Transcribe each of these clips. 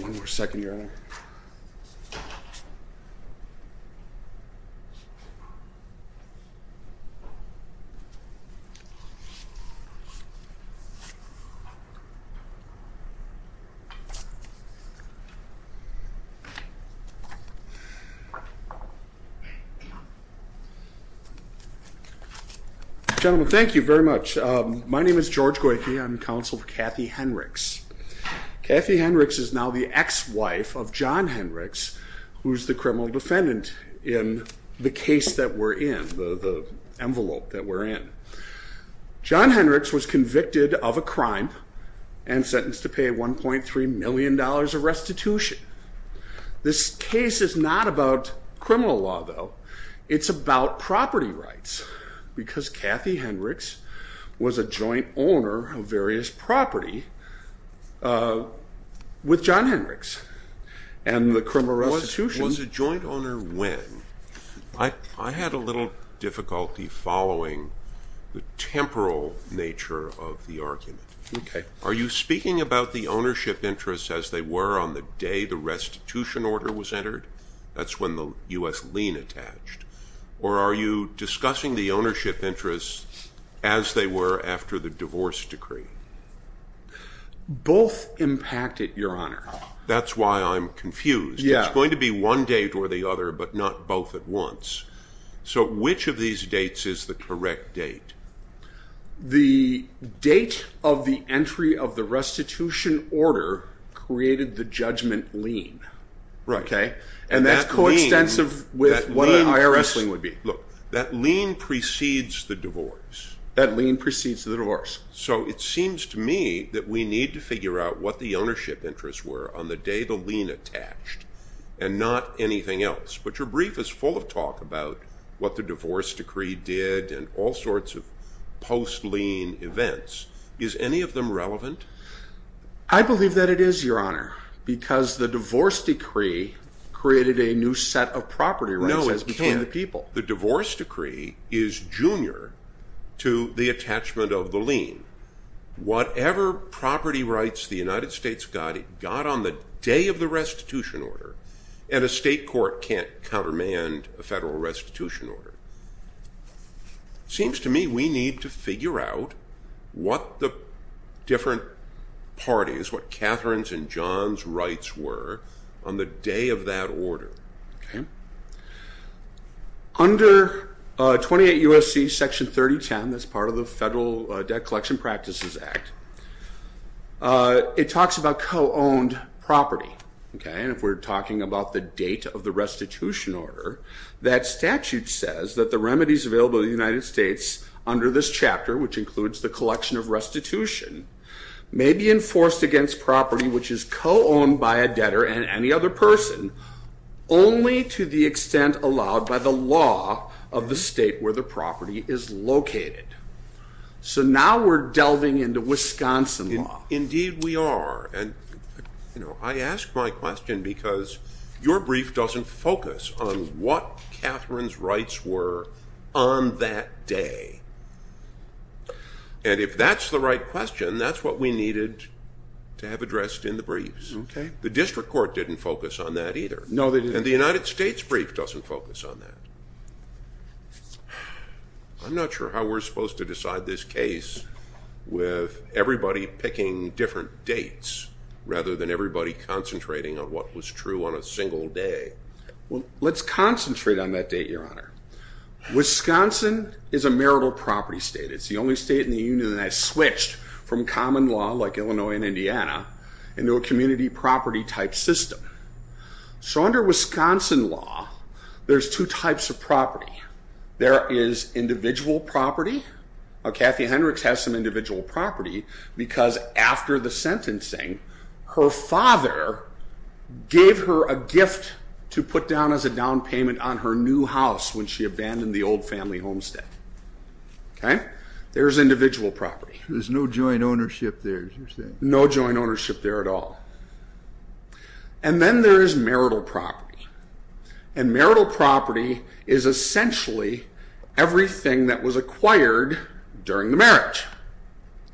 One more second, Your Honor. Gentlemen, thank you very much. My name is George Goyke. I'm counsel for Kathy Henricks. Kathy Henricks is now the ex-wife of John Henricks, who's the criminal defendant in the case that we're in, the envelope that we're in. John Henricks was convicted of a crime and sentenced to pay $1.3 million of restitution. This case is not about criminal law, though. It's about property rights, because Kathy Henricks was a joint owner of various property with John Henricks. Was a joint owner when? I had a little difficulty following the temporal nature of the argument. Are you speaking about the ownership interests as they were on the day the restitution order was entered? That's when the U.S. lien attached. Or are you discussing the ownership interests as they were after the divorce decree? Both impacted, Your Honor. That's why I'm confused. It's going to be one date or the other, but not both at once. So which of these dates is the correct date? The date of the entry of the restitution order created the judgment lien. And that's coextensive with what an IRS lien would be. Look, that lien precedes the divorce. That lien precedes the divorce. So it seems to me that we need to figure out what the ownership interests were on the day the lien attached and not anything else. But your brief is full of talk about what the divorce decree did and all sorts of post-lien events. Is any of them relevant? I believe that it is, Your Honor, because the divorce decree created a new set of property rights between the people. No, it can't. The divorce decree is junior to the attachment of the lien. Whatever property rights the United States got, it got on the day of the restitution order, and a state court can't countermand a federal restitution order. It seems to me we need to figure out what the different parties, what Katherine's and John's rights were on the day of that order. Under 28 U.S.C. Section 3010, that's part of the Federal Debt Collection Practices Act, it talks about co-owned property. If we're talking about the date of the restitution order, that statute says that the remedies available to the United States under this chapter, which includes the collection of restitution, may be enforced against property which is co-owned by a debtor and any other person only to the extent allowed by the law of the state where the property is located. So now we're delving into Wisconsin law. Indeed we are. And I ask my question because your brief doesn't focus on what Katherine's rights were on that day. And if that's the right question, that's what we needed to have addressed in the briefs. The district court didn't focus on that either, and the United States brief doesn't focus on that. I'm not sure how we're supposed to decide this case with everybody picking different dates rather than everybody concentrating on what was true on a single day. Well, let's concentrate on that date, Your Honor. Wisconsin is a marital property state. It's the only state in the union that switched from common law, like Illinois and Indiana, into a community property type system. So under Wisconsin law, there's two types of property. There is individual property. Kathy Hendricks has some individual property because after the sentencing, her father gave her a gift to put down as a down payment on her new house when she abandoned the old family homestead. Okay? There's individual property. There's no joint ownership there, you're saying? No joint ownership there at all. And then there is marital property. And marital property is essentially everything that was acquired during the marriage.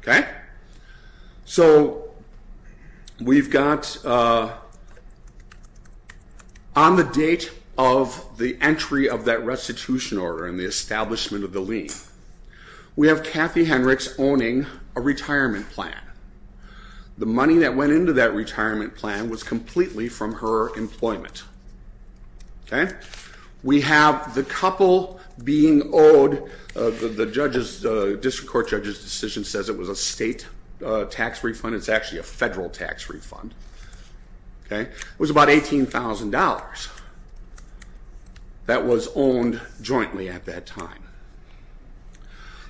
Okay? So we've got on the date of the entry of that restitution order and the establishment of the lien, we have Kathy Hendricks owning a retirement plan. The money that went into that retirement plan was completely from her employment. Okay? We have the couple being owed, the district court judge's decision says it was a state tax refund. It's actually a federal tax refund. Okay? It was about $18,000 that was owned jointly at that time.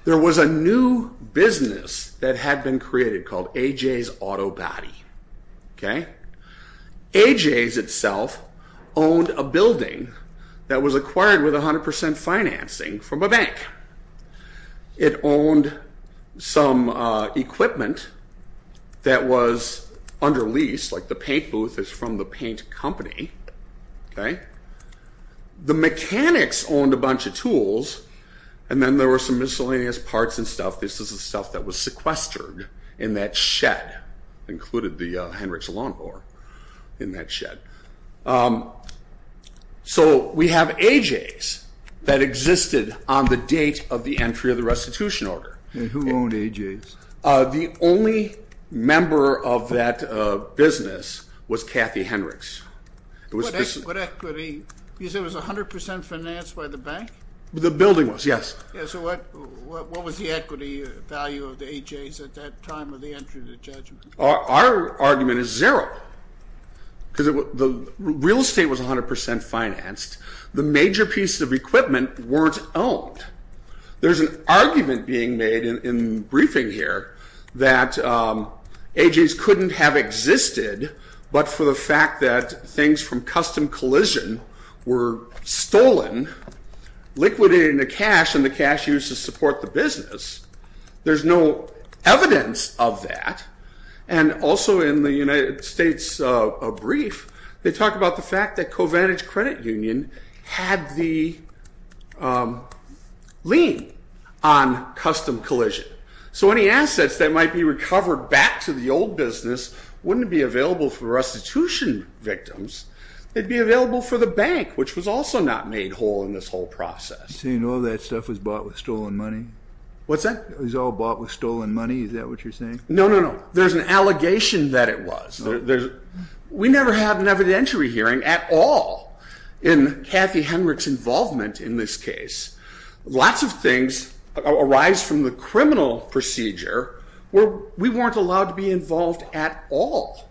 There was a new business that had been created called AJ's Auto Body. Okay? AJ's itself owned a building that was acquired with 100% financing from a bank. It owned some equipment that was under lease, like the paint booth is from the paint company. Okay? The mechanics owned a bunch of tools, and then there were some miscellaneous parts and stuff. This is the stuff that was sequestered in that shed, included the Hendricks lawnmower in that shed. So we have AJ's that existed on the date of the entry of the restitution order. Who owned AJ's? The only member of that business was Kathy Hendricks. What equity? You said it was 100% financed by the bank? The building was, yes. So what was the equity value of the AJ's at that time of the entry of the judgment? Our argument is zero because the real estate was 100% financed. The major pieces of equipment weren't owned. There's an argument being made in the briefing here that AJ's couldn't have existed but for the fact that things from custom collision were stolen, liquidated into cash, and the cash used to support the business, there's no evidence of that. And also in the United States brief, they talk about the fact that CoVantage Credit Union had the lien on custom collision. So any assets that might be recovered back to the old business wouldn't be available for restitution victims. They'd be available for the bank, which was also not made whole in this whole process. So you know that stuff was bought with stolen money? What's that? It was all bought with stolen money. Is that what you're saying? No, no, no. There's an allegation that it was. We never have an evidentiary hearing at all in Kathy Hendricks' involvement in this case. Lots of things arise from the criminal procedure where we weren't allowed to be involved at all.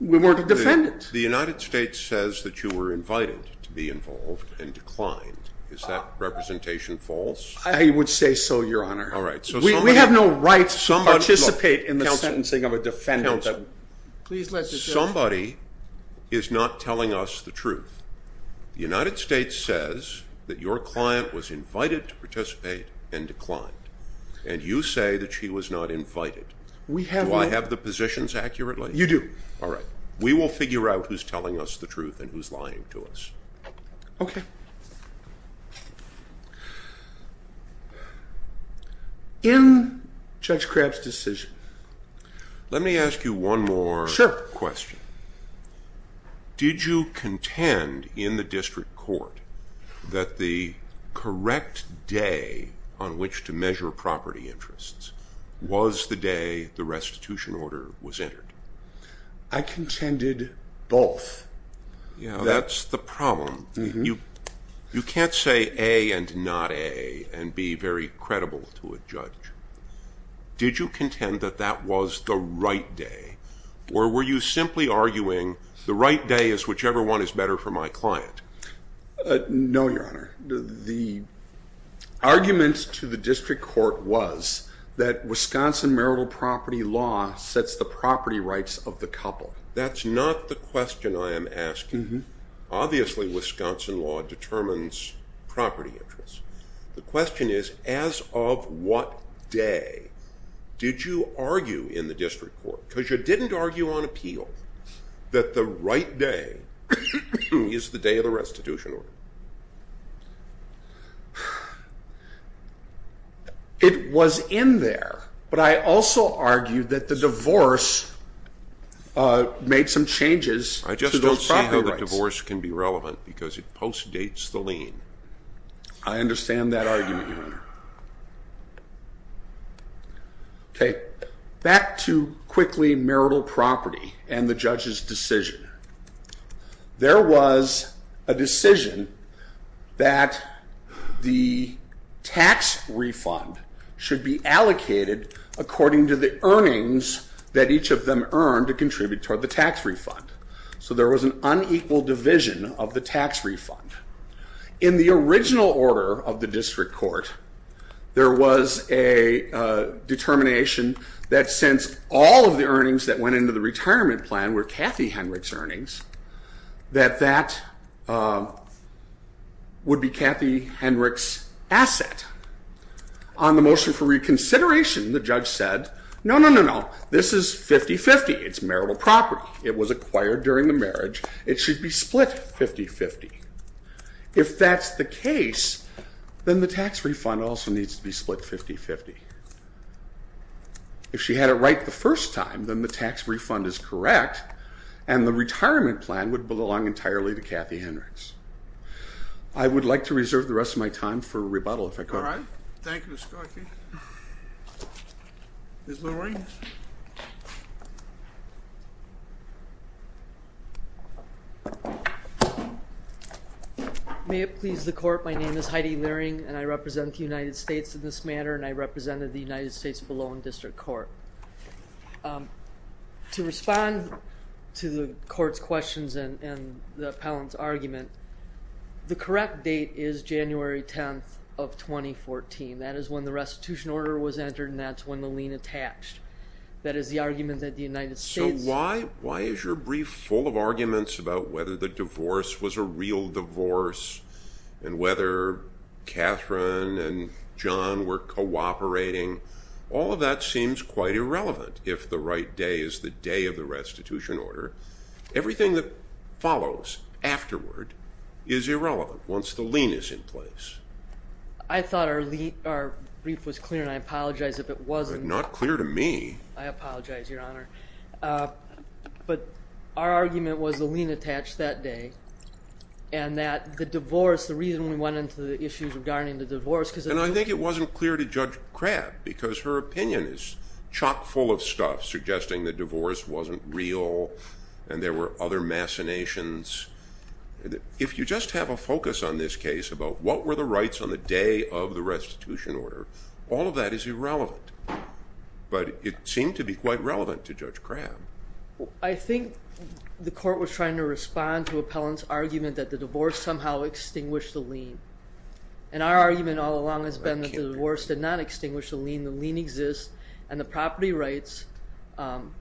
We weren't a defendant. The United States says that you were invited to be involved and declined. Is that representation false? I would say so, Your Honor. All right. We have no right to participate in the sentencing of a defendant. Counsel, somebody is not telling us the truth. The United States says that your client was invited to participate and declined, and you say that she was not invited. Do I have the positions accurately? You do. All right. We will figure out who's telling us the truth and who's lying to us. Okay. In Judge Crabb's decision. Let me ask you one more question. Sure. Did you contend in the district court that the correct day on which to measure property interests was the day the restitution order was entered? I contended both. That's the problem. You can't say A and not A and be very credible to a judge. Did you contend that that was the right day, or were you simply arguing the right day is whichever one is better for my client? No, Your Honor. The argument to the district court was that Wisconsin marital property law sets the property rights of the couple. That's not the question I am asking. Obviously, Wisconsin law determines property interests. The question is, as of what day did you argue in the district court? Because you didn't argue on appeal that the right day is the day of the restitution order. It was in there, but I also argued that the divorce made some changes to those property rights. I just don't see how the divorce can be relevant because it postdates the lien. I understand that argument, Your Honor. Okay. Back to quickly marital property and the judge's decision. There was a decision that the tax refund should be allocated according to the earnings that each of them earned to contribute toward the tax refund. So there was an unequal division of the tax refund. In the original order of the district court, there was a determination that since all of the earnings that went into the retirement plan were Kathy Henrich's earnings, that that would be Kathy Henrich's asset. On the motion for reconsideration, the judge said, no, no, no, no, this is 50-50. It's marital property. It was acquired during the marriage. It should be split 50-50. If that's the case, then the tax refund also needs to be split 50-50. If she had it right the first time, then the tax refund is correct and the retirement plan would belong entirely to Kathy Henrich's. I would like to reserve the rest of my time for rebuttal, if I could. All right. Thank you, Mr. Corky. Ms. Loring? May it please the court, my name is Heidi Loring and I represent the United States in this matter and I represented the United States Malone District Court. To respond to the court's questions and the appellant's argument, the correct date is January 10th of 2014. That is when the restitution order was entered and that's when the lien attached. That is the argument that the United States So why is your brief full of arguments about whether the divorce was a real divorce and whether Katherine and John were cooperating? All of that seems quite irrelevant if the right day is the day of the restitution order. Everything that follows afterward is irrelevant once the lien is in place. I thought our brief was clear and I apologize if it wasn't. It's not clear to me. I apologize, Your Honor. But our argument was the lien attached that day and that the divorce, the reason we went into the issues regarding the divorce And I think it wasn't clear to Judge Crabb because her opinion is chock full of stuff suggesting the divorce wasn't real and there were other machinations. If you just have a focus on this case about what were the rights on the day of the restitution order, all of that is irrelevant. But it seemed to be quite relevant to Judge Crabb. I think the court was trying to respond to Appellant's argument that the divorce somehow extinguished the lien. And our argument all along has been that the divorce did not extinguish the lien, the lien exists, and the property rights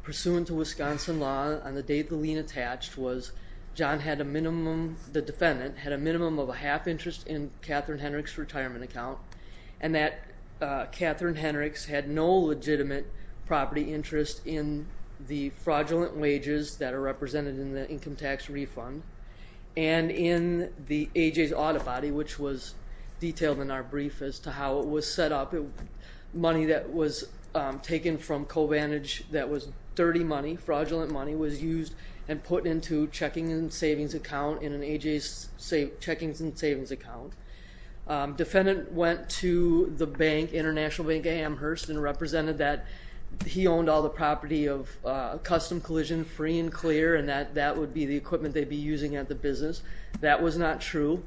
pursuant to Wisconsin law on the date the lien attached was John had a minimum, the defendant, had a minimum of a half interest in Katherine Henrich's retirement account and that Katherine Henrich's had no legitimate property interest in the fraudulent wages that are represented in the income tax refund and in the A.J.'s audit body, which was detailed in our brief as to how it was set up, money that was taken from CoVantage that was dirty money, fraudulent money, was used and put into checking and savings account in an A.J.'s checkings and savings account. Defendant went to the bank, International Bank of Amherst, and represented that he owned all the property of custom collision free and clear and that that would be the equipment they'd be using at the business. That was not true,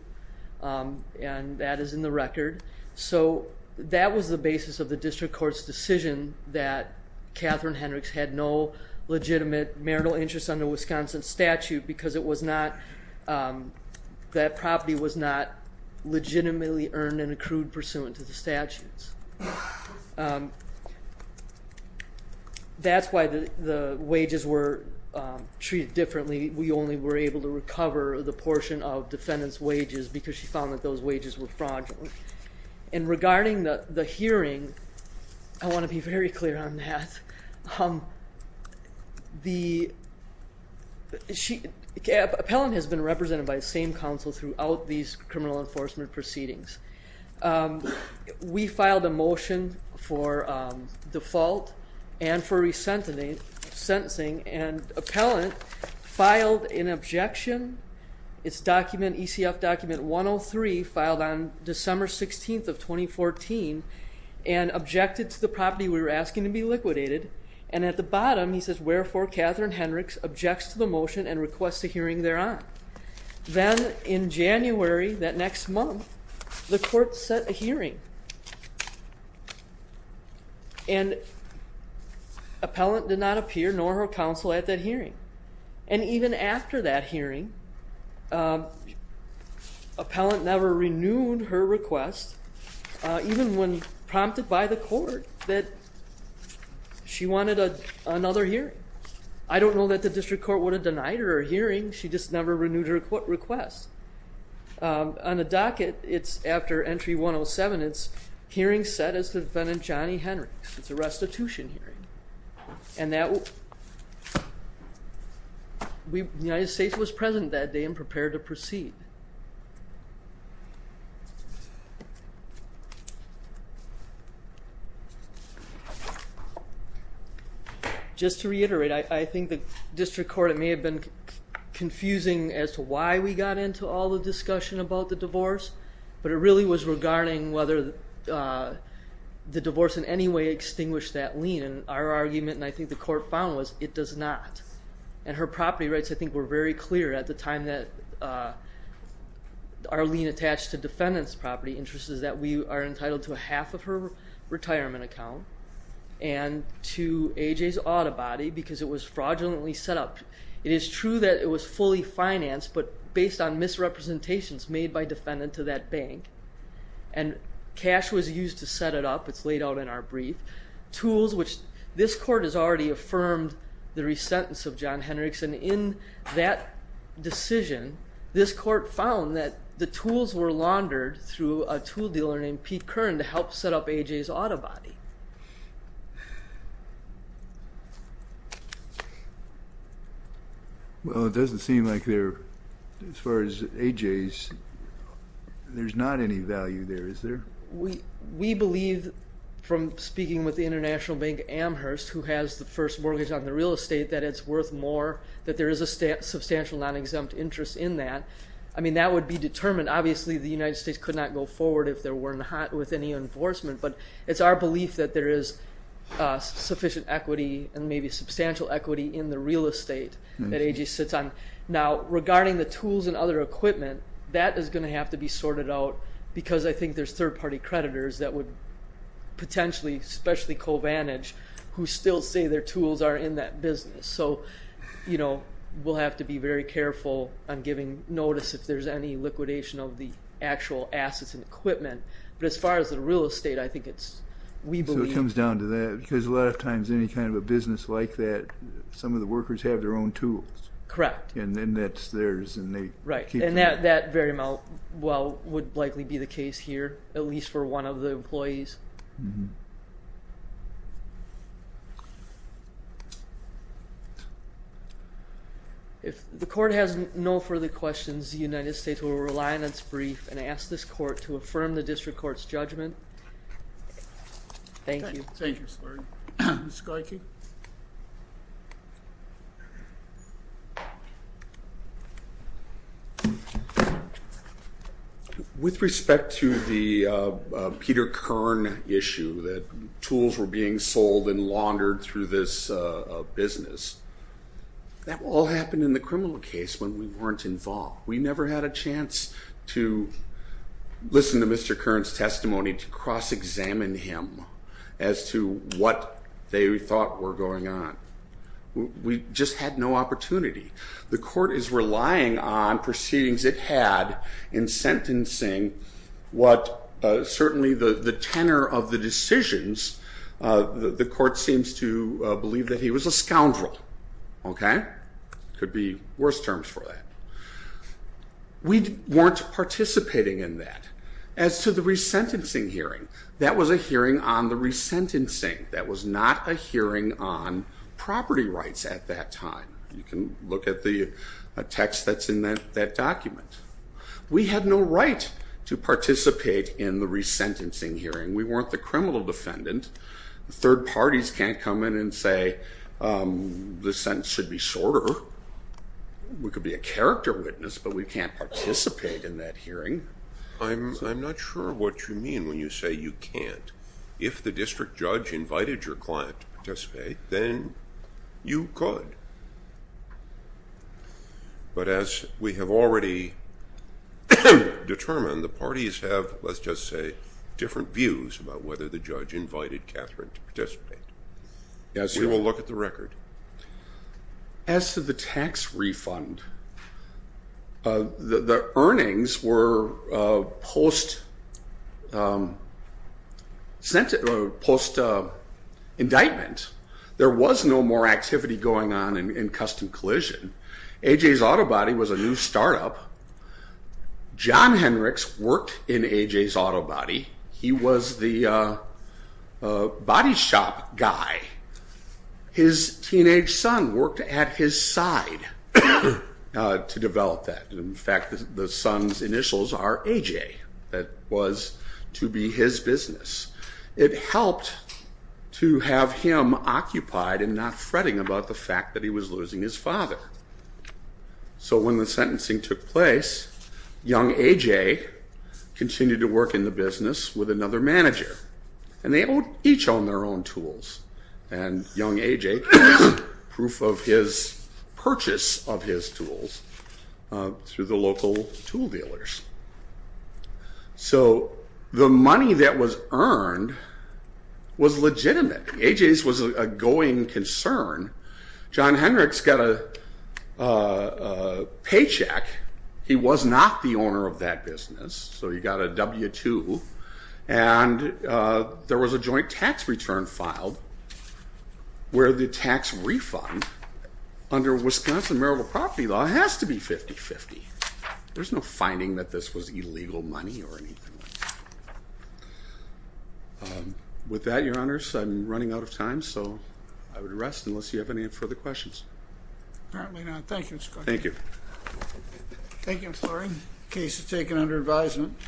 and that is in the record. So that was the basis of the district court's decision that Katherine Henrich's had no legitimate marital interest under Wisconsin statute because it was not, that property was not legitimately earned and accrued pursuant to the statutes. That's why the wages were treated differently. We only were able to recover the portion of defendant's wages because she found that those wages were fraudulent. And regarding the hearing, I want to be very clear on that. The appellant has been represented by the same counsel throughout these criminal enforcement proceedings. We filed a motion for default and for resentencing, and appellant filed an objection. It's document, ECF document 103, filed on December 16th of 2014, and objected to the property we were asking to be liquidated, and at the bottom he says, wherefore Katherine Henrichs objects to the motion and requests a hearing thereon. Then in January, that next month, the court set a hearing, and appellant did not appear nor her counsel at that hearing. And even after that hearing, appellant never renewed her request, even when prompted by the court that she wanted another hearing. I don't know that the district court would have denied her a hearing, she just never renewed her request. On the docket, it's after entry 107, it's hearing set as to defendant Johnny Henrichs. It's a restitution hearing. The United States was present that day and prepared to proceed. Just to reiterate, I think the district court, it may have been confusing as to why we got into all the discussion about the divorce, but it really was regarding whether the divorce in any way extinguished that lien, and our argument, and I think the court found was, it does not. And her property rights, I think, were very clear at the time that our lien attached to defendant's property interests is that we are and to A.J.'s auto body because it was fraudulently set up. It is true that it was fully financed, but based on misrepresentations made by defendant to that bank, and cash was used to set it up, it's laid out in our brief. Tools, which this court has already affirmed the resentence of John Henrichs, and in that decision, this court found that the tools were laundered through a tool dealer named Pete Kern to help set up A.J.'s auto body. Well, it doesn't seem like there, as far as A.J.'s, there's not any value there, is there? We believe, from speaking with the international bank Amherst, who has the first mortgage on the real estate, that it's worth more, that there is a substantial non-exempt interest in that. I mean, that would be determined. Obviously, the United States could not go forward if there weren't any enforcement, but it's our belief that there is sufficient equity and maybe substantial equity in the real estate that A.J. sits on. Now, regarding the tools and other equipment, that is going to have to be sorted out because I think there's third-party creditors that would potentially, especially CoVantage, who still say their tools are in that business. So, you know, we'll have to be very careful on giving notice if there's any liquidation of the actual assets and equipment. But as far as the real estate, I think it's, we believe... So it comes down to that because a lot of times any kind of a business like that, some of the workers have their own tools. Correct. And then that's theirs and they keep... Right, and that very well would likely be the case here, at least for one of the employees. If the court has no further questions, the United States will rely on its brief and ask this court to affirm the district court's judgment. Thank you. Thank you, Mr. Lurie. Mr. Koecke? ...that tools were being sold and laundered through this business. That all happened in the criminal case when we weren't involved. We never had a chance to listen to Mr. Curran's testimony, to cross-examine him as to what they thought were going on. We just had no opportunity. The court is relying on proceedings it had in sentencing what certainly the tenor of the decisions, the court seems to believe that he was a scoundrel. Okay? Could be worse terms for that. We weren't participating in that. As to the resentencing hearing, that was a hearing on the resentencing. That was not a hearing on property rights at that time. You can look at the text that's in that document. We had no right to participate in the resentencing hearing. We weren't the criminal defendant. Third parties can't come in and say the sentence should be sorter. We could be a character witness, but we can't participate in that hearing. I'm not sure what you mean when you say you can't. If the district judge invited your client to participate, then you could. But as we have already determined, the parties have, let's just say, different views about whether the judge invited Catherine to participate. We will look at the record. As to the tax refund, the earnings were post-sentence, post-indictment. There was no more activity going on in Custom Collision. AJ's Auto Body was a new startup. John Henricks worked in AJ's Auto Body. He was the body shop guy. His teenage son worked at his side to develop that. In fact, the son's initials are AJ. That was to be his business. It helped to have him occupied and not fretting about the fact that he was losing his father. So when the sentencing took place, young AJ continued to work in the business with another manager. And they each owned their own tools. And young AJ was proof of his purchase of his tools through the local tool dealers. So the money that was earned was legitimate. AJ's was a going concern. John Henricks got a paycheck. He was not the owner of that business, so he got a W-2. And there was a joint tax return filed where the tax refund under Wisconsin Marital Property Law has to be 50-50. There's no finding that this was illegal money or anything like that. With that, Your Honors, I'm running out of time, so I would rest unless you have any further questions. Apparently not. Thank you, Mr. Clark. Thank you. Thank you, Mr. Lurie. Case is taken under advisement.